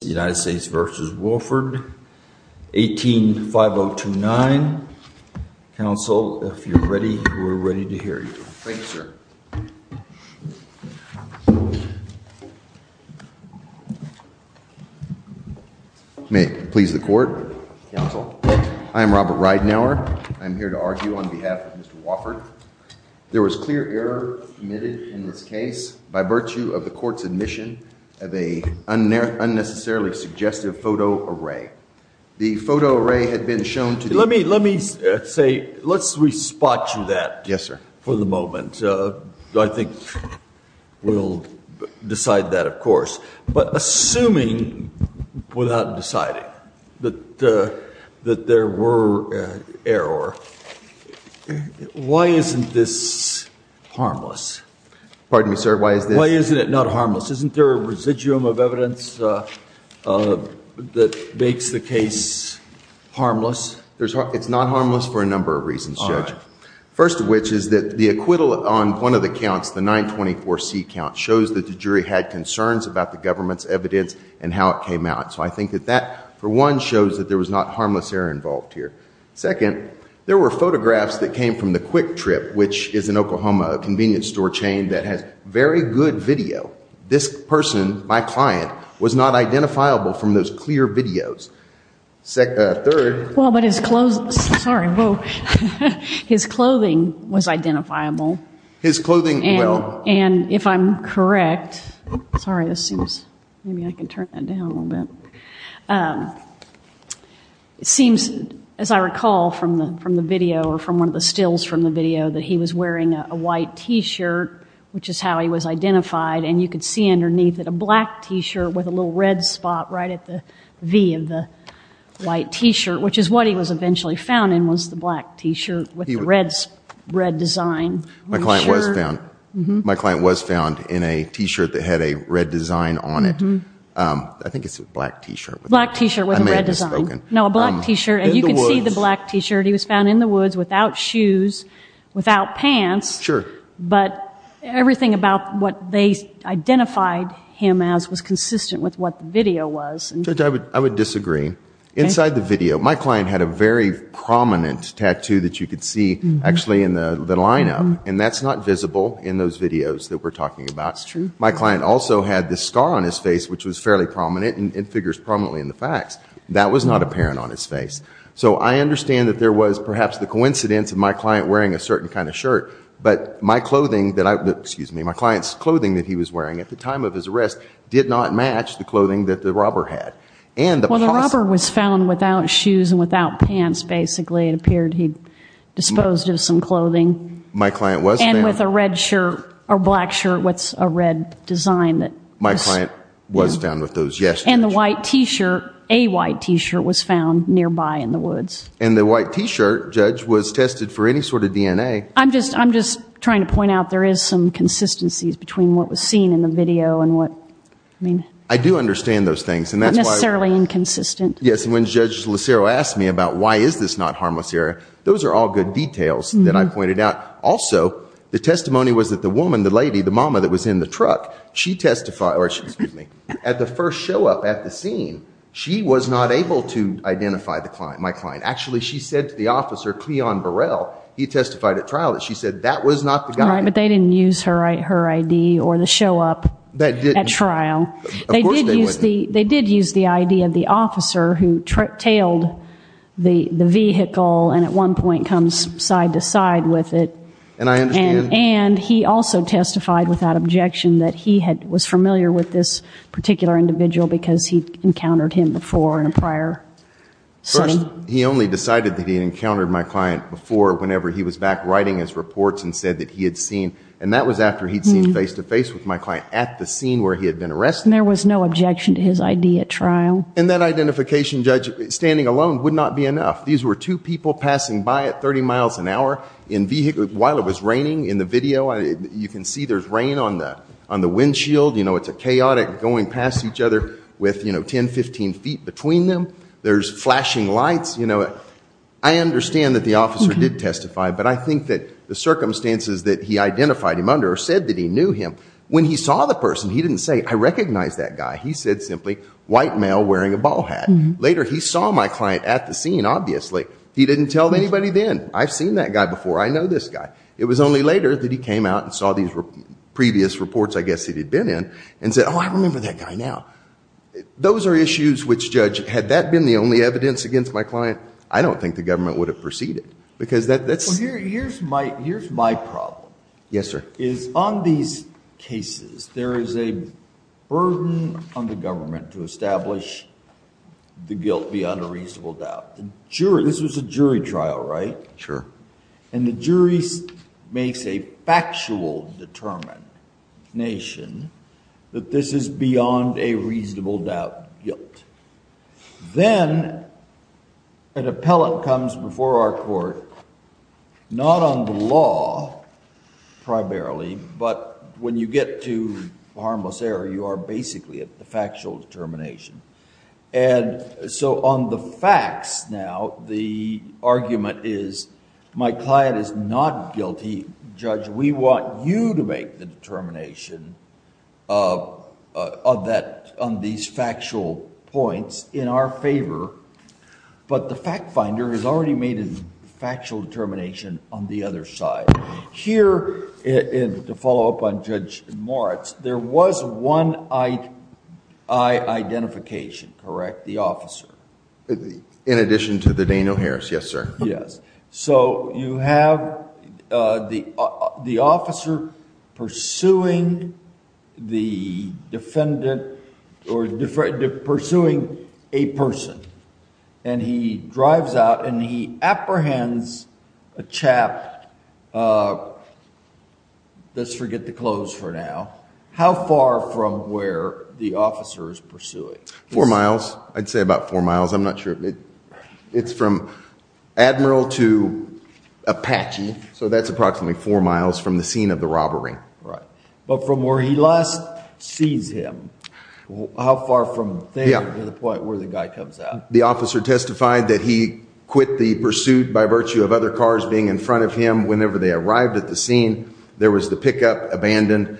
United States v. Wofford, 18-5029. Counsel, if you're ready, we're ready to hear you. Thank you, sir. May it please the court. Counsel, I am Robert Ridenour. I'm here to argue on behalf of Mr. Wofford. There was clear error committed in this case by virtue of the court's admission of a unnecessarily suggestive photo array. The photo array had been shown to the- Let me say, let's re-spot you that for the moment. I think we'll decide that, of course. But assuming without deciding that there were error, why isn't this harmless? Pardon me, sir, why is this- Isn't there a residuum of evidence that makes the case harmless? It's not harmless for a number of reasons, Judge. First of which is that the acquittal on one of the counts, the 924C count, shows that the jury had concerns about the government's evidence and how it came out. So I think that that, for one, shows that there was not harmless error involved here. Second, there were photographs that came from the Quick Trip, which is an Oklahoma convenience store chain that has very good video. This person, my client, was not identifiable from those clear videos. Third- Well, but his clothes, sorry, whoa, his clothing was identifiable. His clothing, well- And if I'm correct, sorry, this seems, maybe I can turn that down a little bit. It seems, as I recall from the video or from one of the stills from the video, that he was wearing a white T-shirt, which is how he was identified. And you could see underneath it a black T-shirt with a little red spot right at the V of the white T-shirt, which is what he was eventually found in, was the black T-shirt with the red design on the shirt. My client was found in a T-shirt that had a red design on it. I think it's a black T-shirt. Black T-shirt with a red design. I may have misspoken. No, a black T-shirt. In the woods. And you can see the black T-shirt. He was found in the woods without shoes, without pants. Sure. But everything about what they identified him as was consistent with what the video was. Judge, I would disagree. Inside the video, my client had a very prominent tattoo that you could see actually in the line-up, and that's not visible in those videos that we're talking about. That's true. My client also had this scar on his face, which was fairly prominent, and it figures prominently in the facts. That was not apparent on his face. So I understand that there was perhaps the coincidence of my client wearing a certain kind of shirt, but my client's clothing that he was wearing at the time of his arrest did not match the clothing that the robber had. Well, the robber was found without shoes and without pants, basically. It appeared he'd disposed of some clothing. My client was found- My client was found with those, yes. And the white T-shirt, a white T-shirt was found nearby in the woods. And the white T-shirt, Judge, was tested for any sort of DNA. I'm just trying to point out there is some consistencies between what was seen in the video. I do understand those things. Unnecessarily inconsistent. Yes, and when Judge Lucero asked me about why is this not harmless area, those are all good details that I pointed out. Also, the testimony was that the woman, the lady, the mama that was in the truck, she testified, or she, excuse me, at the first show up at the scene, she was not able to identify the client, my client. Actually, she said to the officer, Cleon Burrell, he testified at trial that she said that was not the guy. Right, but they didn't use her ID or the show up at trial. That didn't. Of course they wouldn't. They did use the ID of the officer who tailed the vehicle and at one point comes side to side with it. And I understand. And he also testified without objection that he was familiar with this particular individual because he'd encountered him before in a prior setting. He only decided that he encountered my client before whenever he was back writing his reports and said that he had seen, and that was after he'd seen face to face with my client at the scene where he had been arrested. There was no objection to his ID at trial. And that identification, Judge, standing alone would not be enough. These were two people passing by at 30 miles an hour while it was raining in the video. You can see there's rain on the windshield. You know, it's a chaotic going past each other with, you know, 10, 15 feet between them. There's flashing lights, you know. I understand that the officer did testify, but I think that the circumstances that he identified him under said that he knew him. When he saw the person, he didn't say, I recognize that guy. He said simply, white male wearing a ball hat. Later, he saw my client at the scene, obviously. He didn't tell anybody then. I've seen that guy before. I know this guy. It was only later that he came out and saw these previous reports, I guess, that he'd been in and said, oh, I remember that guy now. Those are issues which, Judge, had that been the only evidence against my client, I don't think the government would have proceeded because that's- Well, here's my problem. Yes, sir. Is on these cases, there is a burden on the government to establish the guilt beyond a reasonable doubt. This was a jury trial, right? Sure. The jury makes a factual determination that this is beyond a reasonable doubt guilt. Then, an appellant comes before our court, not on the law, primarily, but when you get to harmless error, you are basically at the factual determination. And so, on the facts now, the argument is, my client is not guilty. Judge, we want you to make the determination on these factual points in our favor, but the fact finder has already made a factual determination on the other side. Here, to follow up on Judge Moritz, there was one eye identification, correct? The officer. In addition to the Daniel Harris, yes, sir. Yes. So, you have the officer pursuing a person, and he drives out and he apprehends a chap and he's, let's forget the clothes for now. How far from where the officer is pursuing? Four miles. I'd say about four miles. I'm not sure. It's from Admiral to Apache. So, that's approximately four miles from the scene of the robbery. Right. But from where he last sees him, how far from there to the point where the guy comes out? The officer testified that he quit the pursuit by virtue of other cars being in front of him whenever they arrived at the scene. There was the pickup abandoned.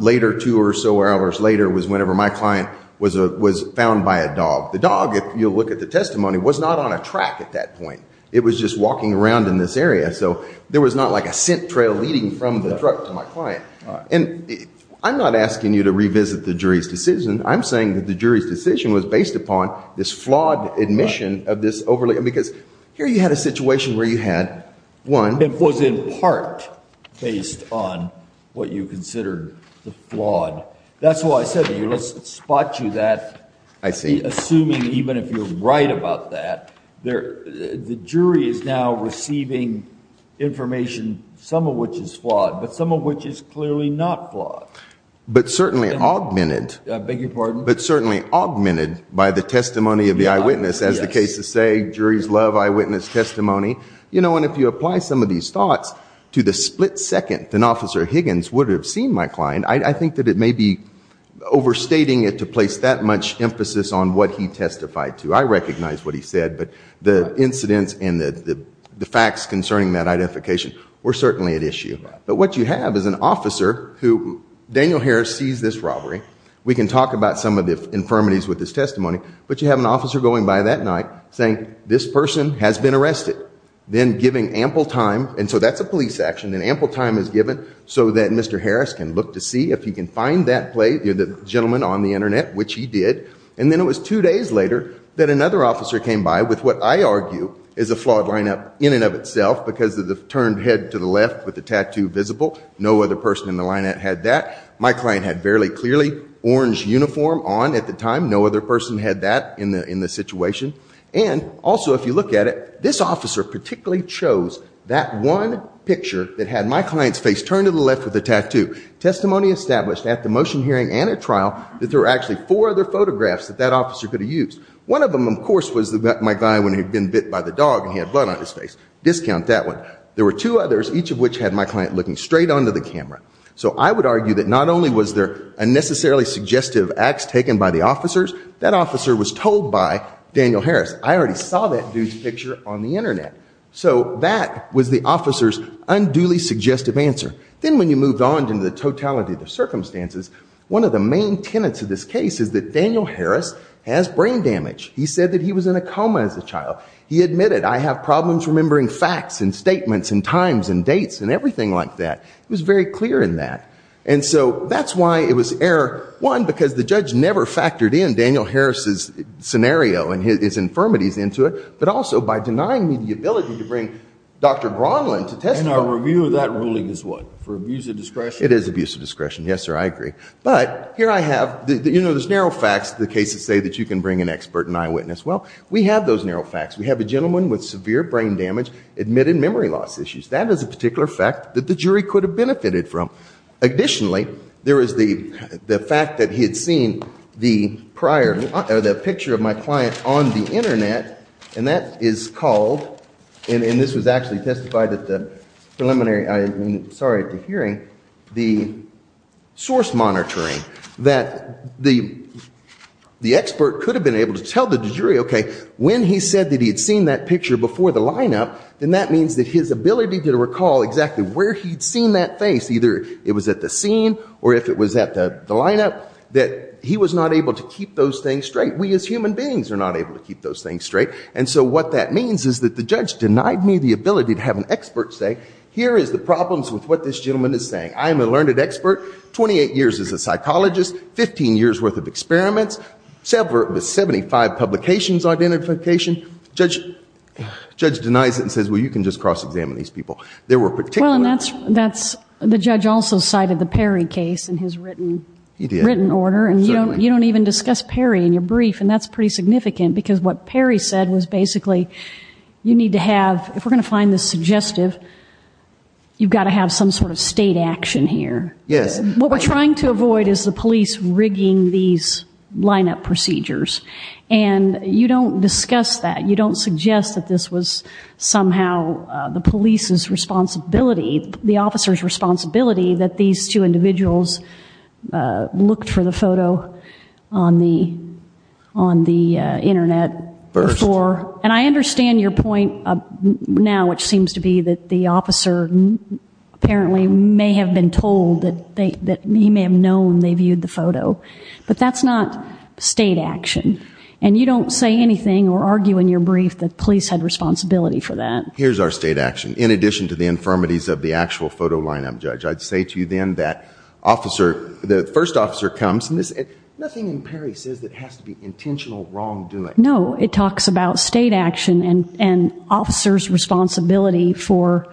Later, two or so hours later was whenever my client was found by a dog. The dog, if you look at the testimony, was not on a track at that point. It was just walking around in this area. So, there was not like a scent trail leading from the truck to my client. And I'm not asking you to revisit the jury's decision. I'm saying that the jury's decision was based upon this flawed admission of this overly, because here you had a situation where you had one. It was in part based on what you considered the flawed. That's why I said to you, let's spot you that. I see. Assuming even if you're right about that, the jury is now receiving information, some of which is flawed, but some of which is clearly not flawed. But certainly augmented. I beg your pardon? But certainly augmented by the testimony of the eyewitness. As the cases say, juries love eyewitness testimony. You know, and if you apply some of these thoughts to the split second that Officer Higgins would have seen my client, I think that it may be overstating it to place that much emphasis on what he testified to. I recognize what he said. But the incidents and the facts concerning that identification were certainly at issue. But what you have is an officer who, Daniel Harris sees this robbery. We can talk about some of the infirmities with his testimony. But you have an officer going by that night saying, this person has been arrested. Then giving ample time. And so that's a police action. And ample time is given so that Mr. Harris can look to see if he can find that play, the gentleman on the internet, which he did. And then it was two days later that another officer came by with what I argue is a flawed lineup in and of itself because of the turned head to the left with the tattoo visible. No other person in the lineup had that. My client had fairly clearly orange uniform on at the time. No other person had that in the situation. And also, if you look at it, this officer particularly chose that one picture that had my client's face turned to the left with the tattoo. Testimony established at the motion hearing and at trial that there were actually four other photographs that that officer could have used. One of them, of course, was my guy when he had been bit by the dog and he had blood on his face. Discount that one. There were two others, each of which had my client looking straight onto the camera. So I would argue that not only was there unnecessarily suggestive acts taken by the officers, that officer was told by Daniel Harris. I already saw that dude's picture on the internet. So that was the officer's unduly suggestive answer. Then when you moved on to the totality of the circumstances, one of the main tenets of this case is that Daniel Harris has brain damage. He said that he was in a coma as a child. He admitted, I have problems remembering facts and statements and times and dates and everything like that. It was very clear in that. And so that's why it was error one, because the judge never factored in Daniel Harris's scenario and his infirmities into it, but also by denying me the ability to bring Dr. Gronlund to testify. And our review of that ruling is what? For abuse of discretion? It is abuse of discretion. Yes, sir, I agree. But here I have, you know, there's narrow facts, the cases say that you can bring an expert and eyewitness. Well, we have those narrow facts. We have a gentleman with severe brain damage admitted memory loss issues. That is a particular fact that the jury could have benefited from. Additionally, there is the fact that he had seen the prior, or the picture of my client on the internet, and that is called, and this was actually testified at the preliminary, I mean, sorry, at the hearing, the source monitoring, that the expert could have been able to tell the jury, okay, when he said that he had seen that picture before the lineup, then that means that his ability to recall exactly where he'd seen that face, either it was at the scene or if it was at the lineup, that he was not able to keep those things straight. We as human beings are not able to keep those things straight. And so what that means is that the judge denied me the ability to have an expert say, here is the problems with what this gentleman is saying. I am a learned expert, 28 years as a psychologist, 15 years' worth of experiments, 75 publications identification. Judge denies it and says, well, you can just cross-examine these people. There were particular... Well, and that's, the judge also cited the Perry case in his written order, and you don't even discuss Perry in your brief, and that's pretty significant, because what Perry said was basically, you need to have, if we're going to find this suggestive, you've got to have some sort of state action here. Yes. What we're trying to avoid is the police rigging these lineup procedures. And you don't discuss that. You don't suggest that this was somehow the police's responsibility, the officer's responsibility, that these two individuals looked for the photo on the internet before. And I understand your point now, which seems to be that the officer apparently may have been told, that he may have known they viewed the photo, but that's not state action. And you don't say anything or argue in your brief that police had responsibility for that. Here's our state action, in addition to the infirmities of the actual photo lineup, Judge. I'd say to you then that officer, the first officer comes, nothing in Perry says that has to be intentional wrongdoing. No, it talks about state action and officer's responsibility for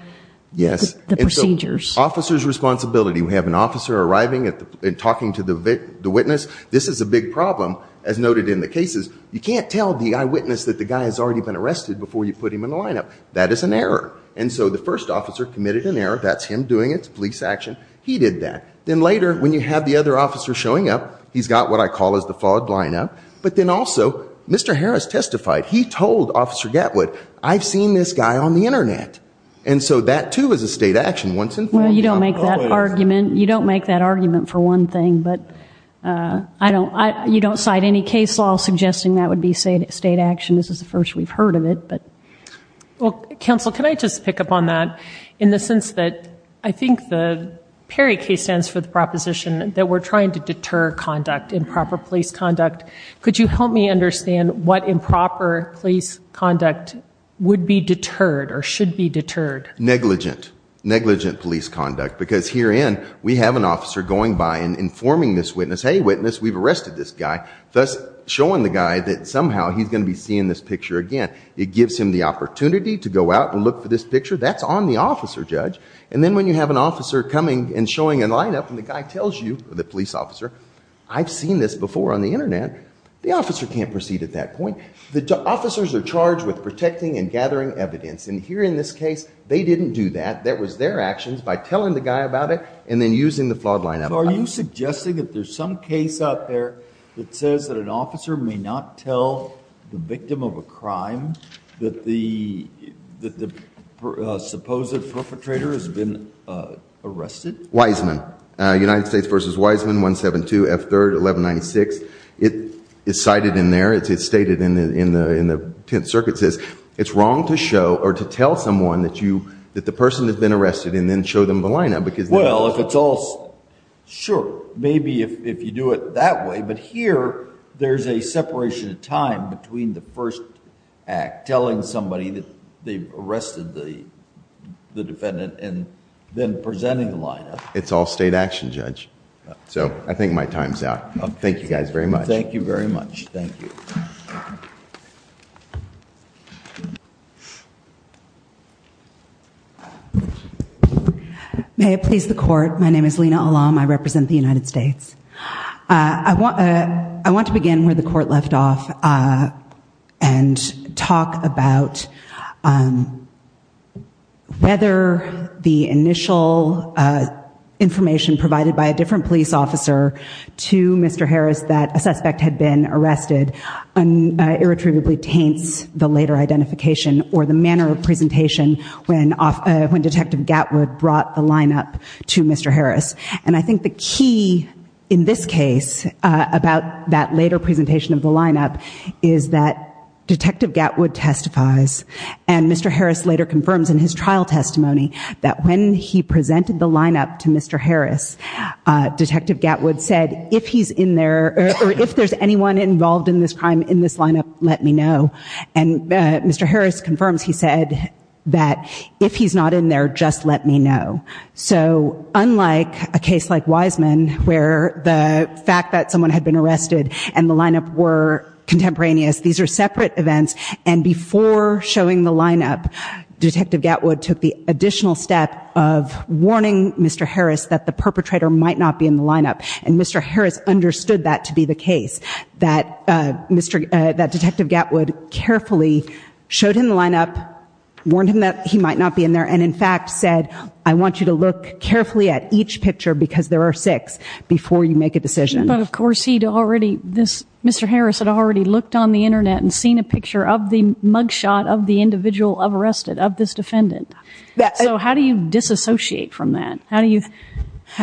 the procedures. Officer's responsibility. We have an officer arriving and talking to the witness. This is a big problem, as noted in the cases. You can't tell the eyewitness that the guy has already been arrested before you put him in the lineup. That is an error. And so the first officer committed an error. That's him doing its police action. He did that. Then later, when you have the other officer showing up, he's got what I call is the flawed lineup. But then also, Mr. Harris testified. He told Officer Gatwood, I've seen this guy on the internet. And so that, too, is a state action. Well, you don't make that argument. You don't make that argument for one thing. But you don't cite any case law suggesting that would be state action. This is the first we've heard of it. Well, counsel, can I just pick up on that in the sense that I think the Perry case stands for the proposition that we're trying to deter conduct, improper police conduct. Could you help me understand what improper police conduct would be deterred or should be deterred? Negligent. Negligent police conduct. Because herein, we have an officer going by and informing this witness, hey, witness, we've arrested this guy, thus showing the guy that somehow he's going to be seeing this picture again. It gives him the opportunity to go out and look for this picture. That's on the officer, Judge. And then when you have an officer coming and showing a lineup and the guy tells you, the internet, the officer can't proceed at that point. The officers are charged with protecting and gathering evidence. And here in this case, they didn't do that. That was their actions by telling the guy about it and then using the flawed lineup. Are you suggesting that there's some case out there that says that an officer may not tell the victim of a crime that the supposed perpetrator has been arrested? Wiseman. United States v. Wiseman, 172 F. 3rd, 1196. It is cited in there. It's stated in the Tenth Circuit says, it's wrong to show or to tell someone that the person has been arrested and then show them the lineup. Well, if it's all, sure. Maybe if you do it that way. But here, there's a separation of time between the first act, telling somebody that they've It's all state action, Judge. So I think my time's out. Thank you guys very much. Thank you very much. Thank you. May it please the court. My name is Lena Alam. I represent the United States. I want to begin where the court left off and talk about whether the initial information provided by a different police officer to Mr. Harris, that a suspect had been arrested, irretrievably taints the later identification or the manner of presentation when Detective Gatwood brought the lineup to Mr. Harris. And I think the key in this case about that later presentation of the lineup is that Detective Gatwood testifies and Mr. Harris later confirms in his trial testimony that when he presented the lineup to Mr. Harris, Detective Gatwood said, if he's in there or if there's anyone involved in this crime in this lineup, let me know. And Mr. Harris confirms he said that if he's not in there, just let me know. So unlike a case like Wiseman, where the fact that someone had been arrested and the lineup were contemporaneous, these are separate events. And before showing the lineup, Detective Gatwood took the additional step of warning Mr. Harris that the perpetrator might not be in the lineup. And Mr. Harris understood that to be the case, that Detective Gatwood carefully showed him the lineup, warned him that he might not be in there, and in fact said, I want you to look carefully at each picture because there are six before you make a decision. But of course, Mr. Harris had already looked on the internet and seen a picture of the mugshot of the individual arrested, of this defendant. So how do you disassociate from that? How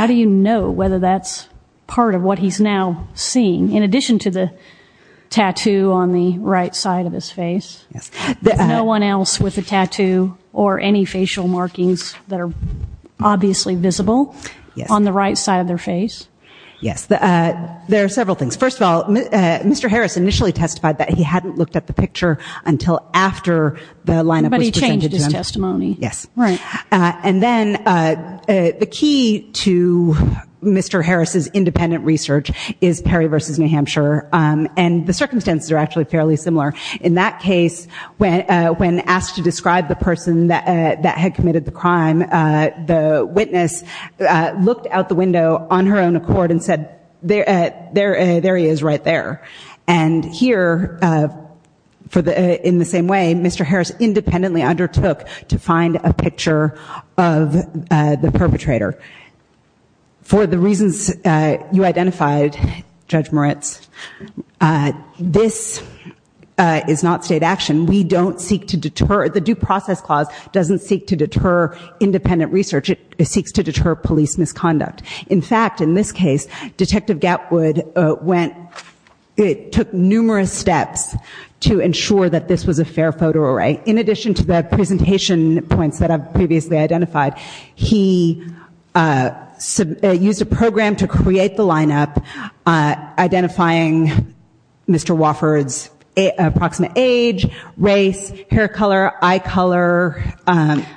do you know whether that's part of what he's now seeing? In addition to the tattoo on the right side of his face, no one else with a tattoo or any facial markings that are obviously visible on the right side of their face? Yes, there are several things. First of all, Mr. Harris initially testified that he hadn't looked at the picture until after the lineup was presented to him. But he changed his testimony. Yes. Right. And then the key to Mr. Harris's independent research is Perry v. New Hampshire. And the circumstances are actually fairly similar. In that case, when asked to describe the person that had committed the crime, the witness looked out the window on her own accord and said, there he is right there. And here, in the same way, Mr. Harris independently undertook to find a picture of the perpetrator. For the reasons you identified, Judge Moritz, this is not state action. We don't seek to deter. The Due Process Clause doesn't seek to deter independent research. It seeks to deter police misconduct. In fact, in this case, Detective Gatwood took numerous steps to ensure that this was a fair photo array. In addition to the presentation points that I've previously identified, he used a program to create the lineup, identifying Mr. Wofford's approximate age, race, hair color, eye color.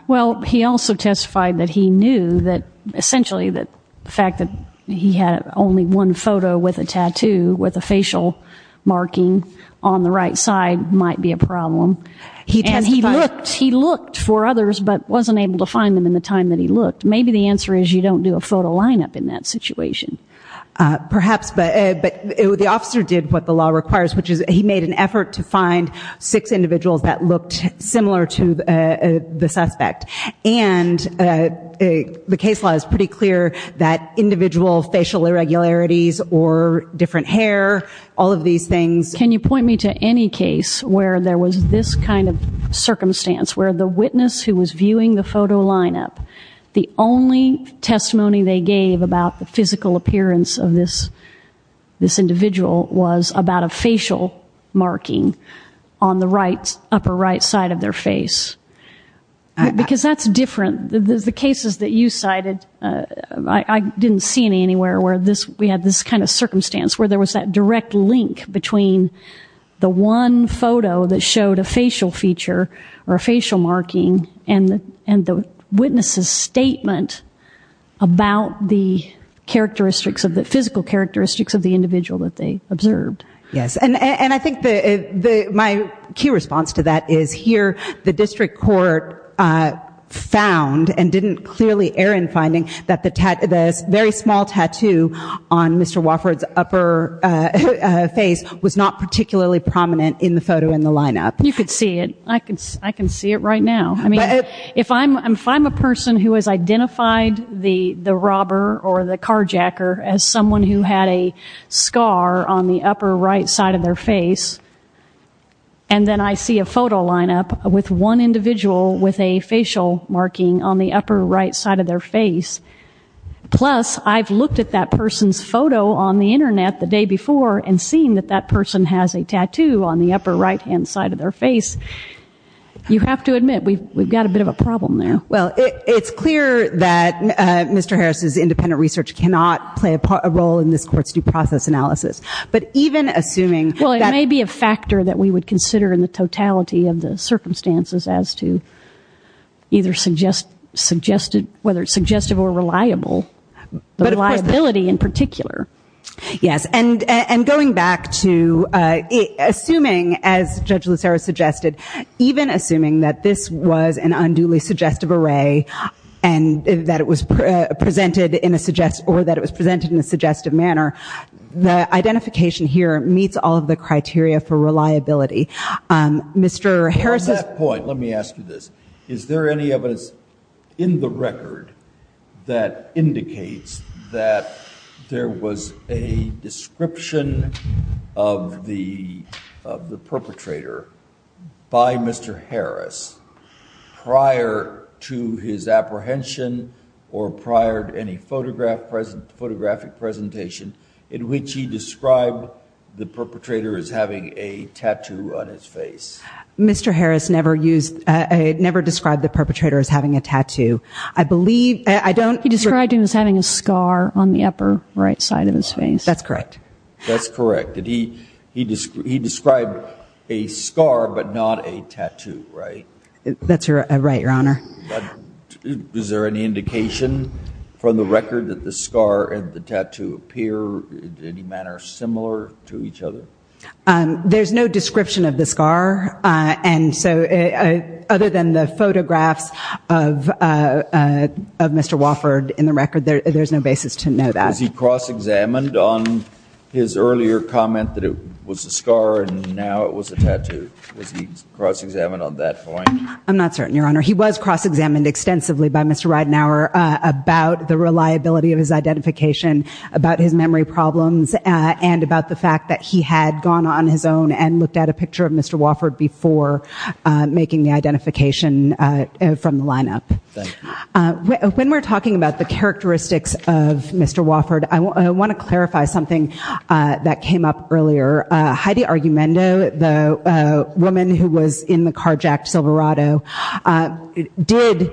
Well, he also testified that he knew that essentially the fact that he had only one photo with a tattoo with a facial marking on the right side might be a problem. And he looked for others, but wasn't able to find them in the time that he looked. Maybe the answer is you don't do a photo lineup in that situation. Perhaps. But the officer did what the law requires, which is he made an effort to find six individuals that looked similar to the suspect. And the case law is pretty clear that individual facial irregularities or different hair, all of these things. Can you point me to any case where there was this kind of circumstance where the witness who was viewing the photo lineup, the only testimony they gave about the physical appearance of this individual was about a facial marking on the upper right side of their face? Because that's different. The cases that you cited, I didn't see any anywhere where we had this kind of circumstance where there was that direct link between the one photo that showed a facial feature or physical characteristics of the individual that they observed. Yes. And I think my key response to that is here the district court found and didn't clearly err in finding that the very small tattoo on Mr. Wofford's upper face was not particularly prominent in the photo in the lineup. You could see it. I can see it right now. If I'm a person who has identified the robber or the carjacker as someone who had a scar on the upper right side of their face and then I see a photo lineup with one individual with a facial marking on the upper right side of their face, plus I've looked at that person's photo on the internet the day before and seen that that person has a tattoo on the upper right-hand side of their face, you have to admit we've got a bit of a problem there. Well, it's clear that Mr. Harris's independent research cannot play a role in this court's due process analysis. But even assuming that— Well, it may be a factor that we would consider in the totality of the circumstances as to either whether it's suggestive or reliable, the reliability in particular. Yes. And going back to assuming, as Judge Lucero suggested, even assuming that this was an unduly suggestive array and that it was presented in a suggest—or that it was presented in a suggestive manner, the identification here meets all of the criteria for reliability. Mr. Harris's— On that point, let me ask you this. Is there any evidence in the record that indicates that there was a description of the perpetrator by Mr. Harris prior to his apprehension or prior to any photograph—photographic presentation in which he described the perpetrator as having a tattoo on his face? Mr. Harris never used—never described the perpetrator as having a tattoo. I believe—I don't— He described him as having a scar on the upper right side of his face. That's correct. That's correct. He described a scar but not a tattoo, right? That's right, Your Honor. Is there any indication from the record that the scar and the tattoo appear in any manner similar to each other? There's no description of the scar, and so other than the photographs of Mr. Wofford in the record, there's no basis to know that. Was he cross-examined on his earlier comment that it was a scar and now it was a tattoo? Was he cross-examined on that point? I'm not certain, Your Honor. He was cross-examined extensively by Mr. Reidenauer about the reliability of his identification, about his memory problems, and about the fact that he had gone on his own and looked at a picture of Mr. Wofford before making the identification from the lineup. When we're talking about the characteristics of Mr. Wofford, I want to clarify something that came up earlier. Heidi Argumendo, the woman who was in the carjacked Silverado, did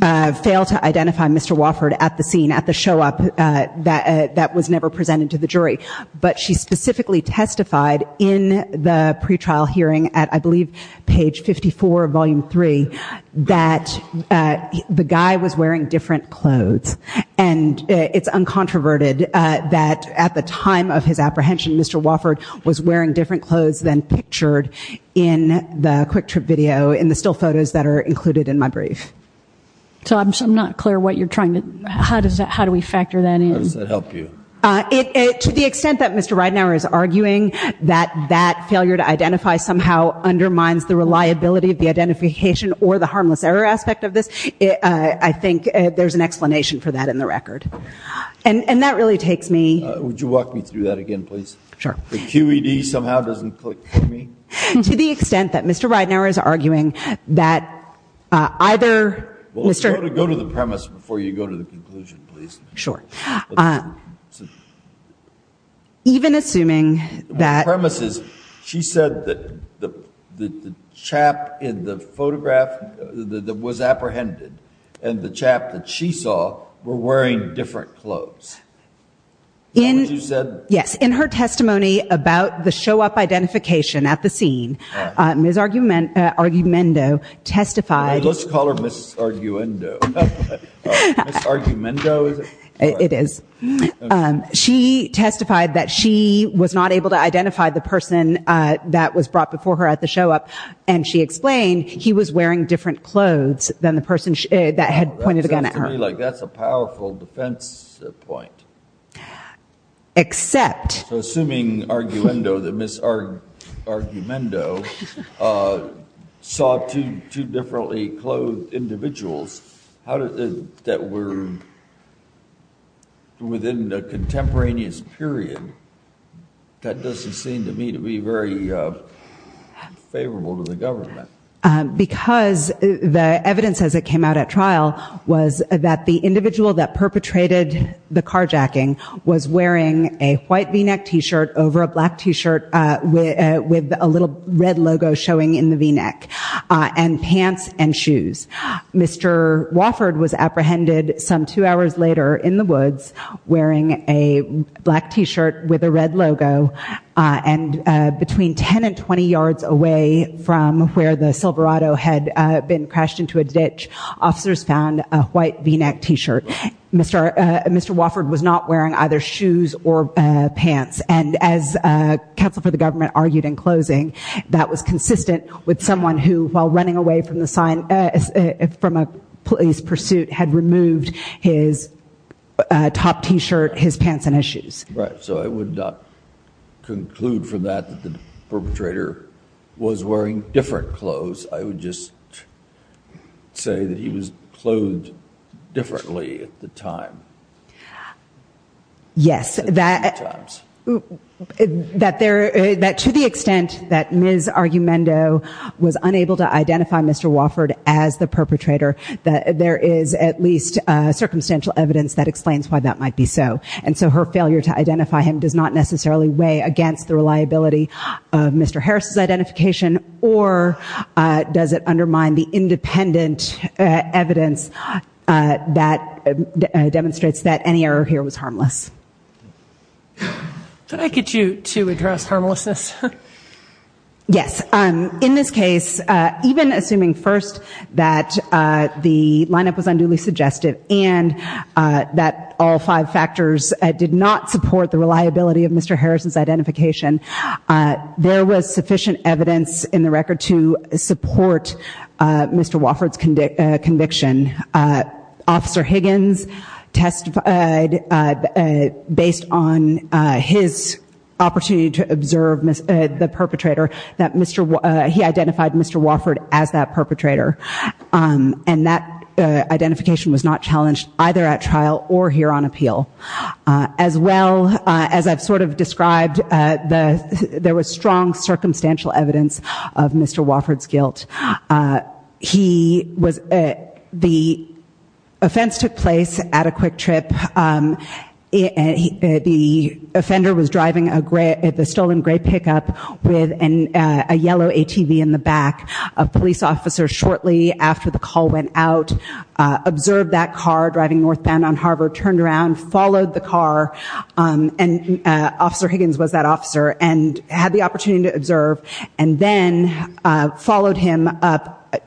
fail to identify Mr. Wofford at the scene, at the show-up that was never presented to the jury. But she specifically testified in the pretrial hearing at, I believe, page 54, volume 3, that the guy was wearing different clothes. And it's uncontroverted that at the time of his apprehension, Mr. Wofford was wearing different clothes than pictured in the quick trip video, in the still photos that are included in my brief. So I'm not clear what you're trying to... How does that... How do we factor that in? How does that help you? To the extent that Mr. Reidenauer is arguing that that failure to identify somehow undermines the reliability of the identification or the harmless error aspect of this, I think there's an explanation for that in the record. And that really takes me... Would you walk me through that again, please? Sure. The QED somehow doesn't click for me. To the extent that Mr. Reidenauer is arguing that either... Well, go to the premise before you go to the conclusion, please. Sure. Even assuming that... The premise is, she said that the chap in the photograph that was apprehended and the chap that she saw were wearing different clothes. That's what you said? Yes. In her testimony about the show-up identification at the scene, Ms. Argumendo testified... Let's call her Ms. Argumendo. Ms. Argumendo, is it? It is. She testified that she was not able to identify the person that was brought before her at the show-up. And she explained he was wearing different clothes than the person that had pointed a gun at her. That sounds to me like that's a powerful defense point. Except... So assuming Argumendo, that Ms. Argumendo saw two differently clothed individuals that were within a contemporaneous period, that doesn't seem to me to be very favorable to the government. Because the evidence as it came out at trial was that the individual that perpetrated the carjacking was wearing a white V-neck T-shirt over a black T-shirt with a little red logo showing in the V-neck, and pants and shoes. Mr. Wofford was apprehended some two hours later in the woods wearing a black T-shirt with a red logo. And between 10 and 20 yards away from where the Silverado had been crashed into a ditch, officers found a white V-neck T-shirt. Mr. Wofford was not wearing either shoes or pants. And as counsel for the government argued in closing, that was consistent with someone who, while running away from a police pursuit, had removed his top T-shirt, his pants, and his shoes. Right. So I would not conclude from that that the perpetrator was wearing different clothes. I would just say that he was clothed differently at the time. Yes, that to the extent that Ms. Argumendo was unable to identify Mr. Wofford as the perpetrator, that there is at least circumstantial evidence that explains why that might be so. And so her failure to identify him does not necessarily weigh against the reliability of Mr. Harris' identification. Or does it undermine the independent evidence that demonstrates that any error here was harmless? Could I get you to address harmlessness? Yes. In this case, even assuming first that the lineup was unduly suggestive and that all there was sufficient evidence in the record to support Mr. Wofford's conviction, Officer Higgins testified, based on his opportunity to observe the perpetrator, that he identified Mr. Wofford as that perpetrator. And that identification was not challenged either at trial or here on appeal. As well, as I've sort of described, there was strong circumstantial evidence of Mr. Wofford's guilt. The offense took place at a quick trip. The offender was driving the stolen gray pickup with a yellow ATV in the back. A police officer shortly after the call went out observed that car driving northbound on the road, followed the car, and Officer Higgins was that officer, and had the opportunity to observe, and then followed him up,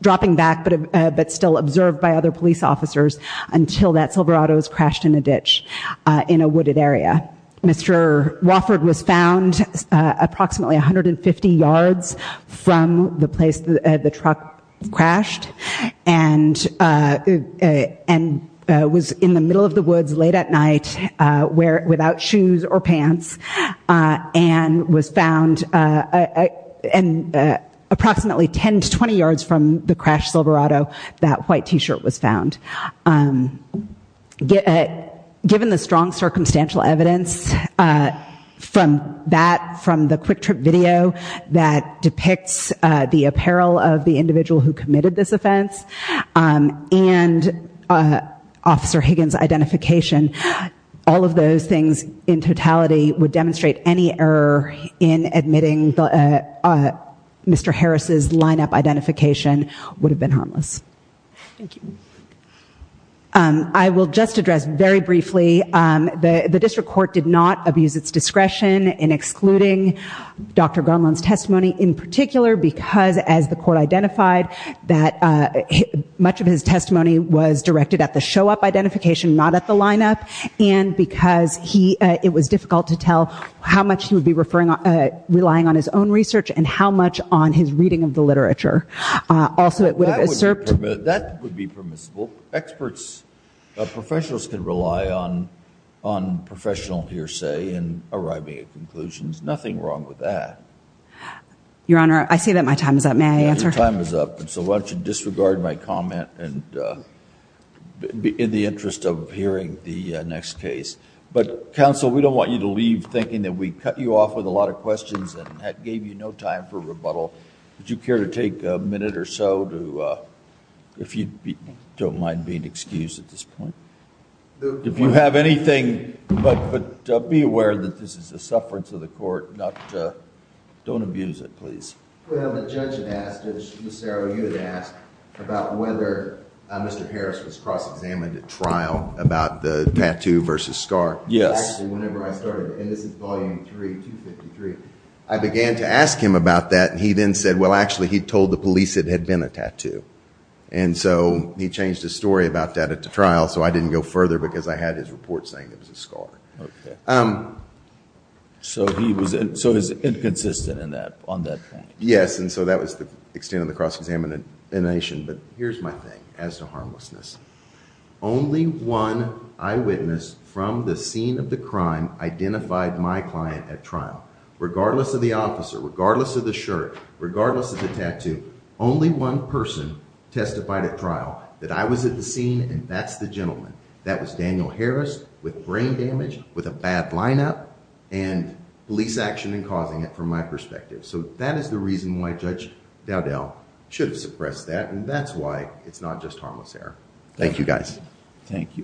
dropping back but still observed by other police officers until that Silverado's crashed in a ditch in a wooded area. Mr. Wofford was found approximately 150 yards from the place the truck crashed and and was in the middle of the woods late at night without shoes or pants and was found and approximately 10 to 20 yards from the crash Silverado that white t-shirt was found. Given the strong circumstantial evidence from that, from the quick trip video that depicts the apparel of the individual who committed this offense, and Officer Higgins' identification, all of those things in totality would demonstrate any error in admitting Mr. Harris's lineup identification would have been harmless. I will just address very briefly, the district court did not abuse its discretion in excluding Dr. Gunlund's testimony in particular because as the court identified that much of his testimony was directed at the show-up identification, not at the lineup, and because it was difficult to tell how much he would be relying on his own research and how much on his reading of the literature. Also, it would have usurped- That would be permissible. Experts, professionals can rely on professional hearsay and arriving at conclusions. Nothing wrong with that. Your Honor, I see that my time is up. May I answer? Your time is up, so why don't you disregard my comment in the interest of hearing the next case. Counsel, we don't want you to leave thinking that we cut you off with a lot of questions and that gave you no time for rebuttal. Would you care to take a minute or so if you don't mind being excused at this point? If you have anything, be aware that this is the sufferance of the court. Don't abuse it, please. Well, the judge had asked, Ms. Saro, you had asked about whether Mr. Harris was cross-examined at trial about the tattoo versus scar. Yes. Actually, whenever I started, and this is Volume 3, 253, I began to ask him about that, and he then said, well, actually, he told the police it had been a tattoo. So he changed his story about that at the trial, so I didn't go further because I had his report saying it was a scar. Okay. So he was inconsistent on that point. Yes, and so that was the extent of the cross-examination, but here's my thing as to harmlessness. Only one eyewitness from the scene of the crime identified my client at trial, regardless of the officer, regardless of the shirt, regardless of the tattoo, only one person testified at trial that I was at the scene, and that's the gentleman. That was Daniel Harris with brain damage, with a bad lineup, and police action in causing it from my perspective. So that is the reason why Judge Dowdell should have suppressed that, and that's why it's not just harmless error. Thank you, guys. Thank you.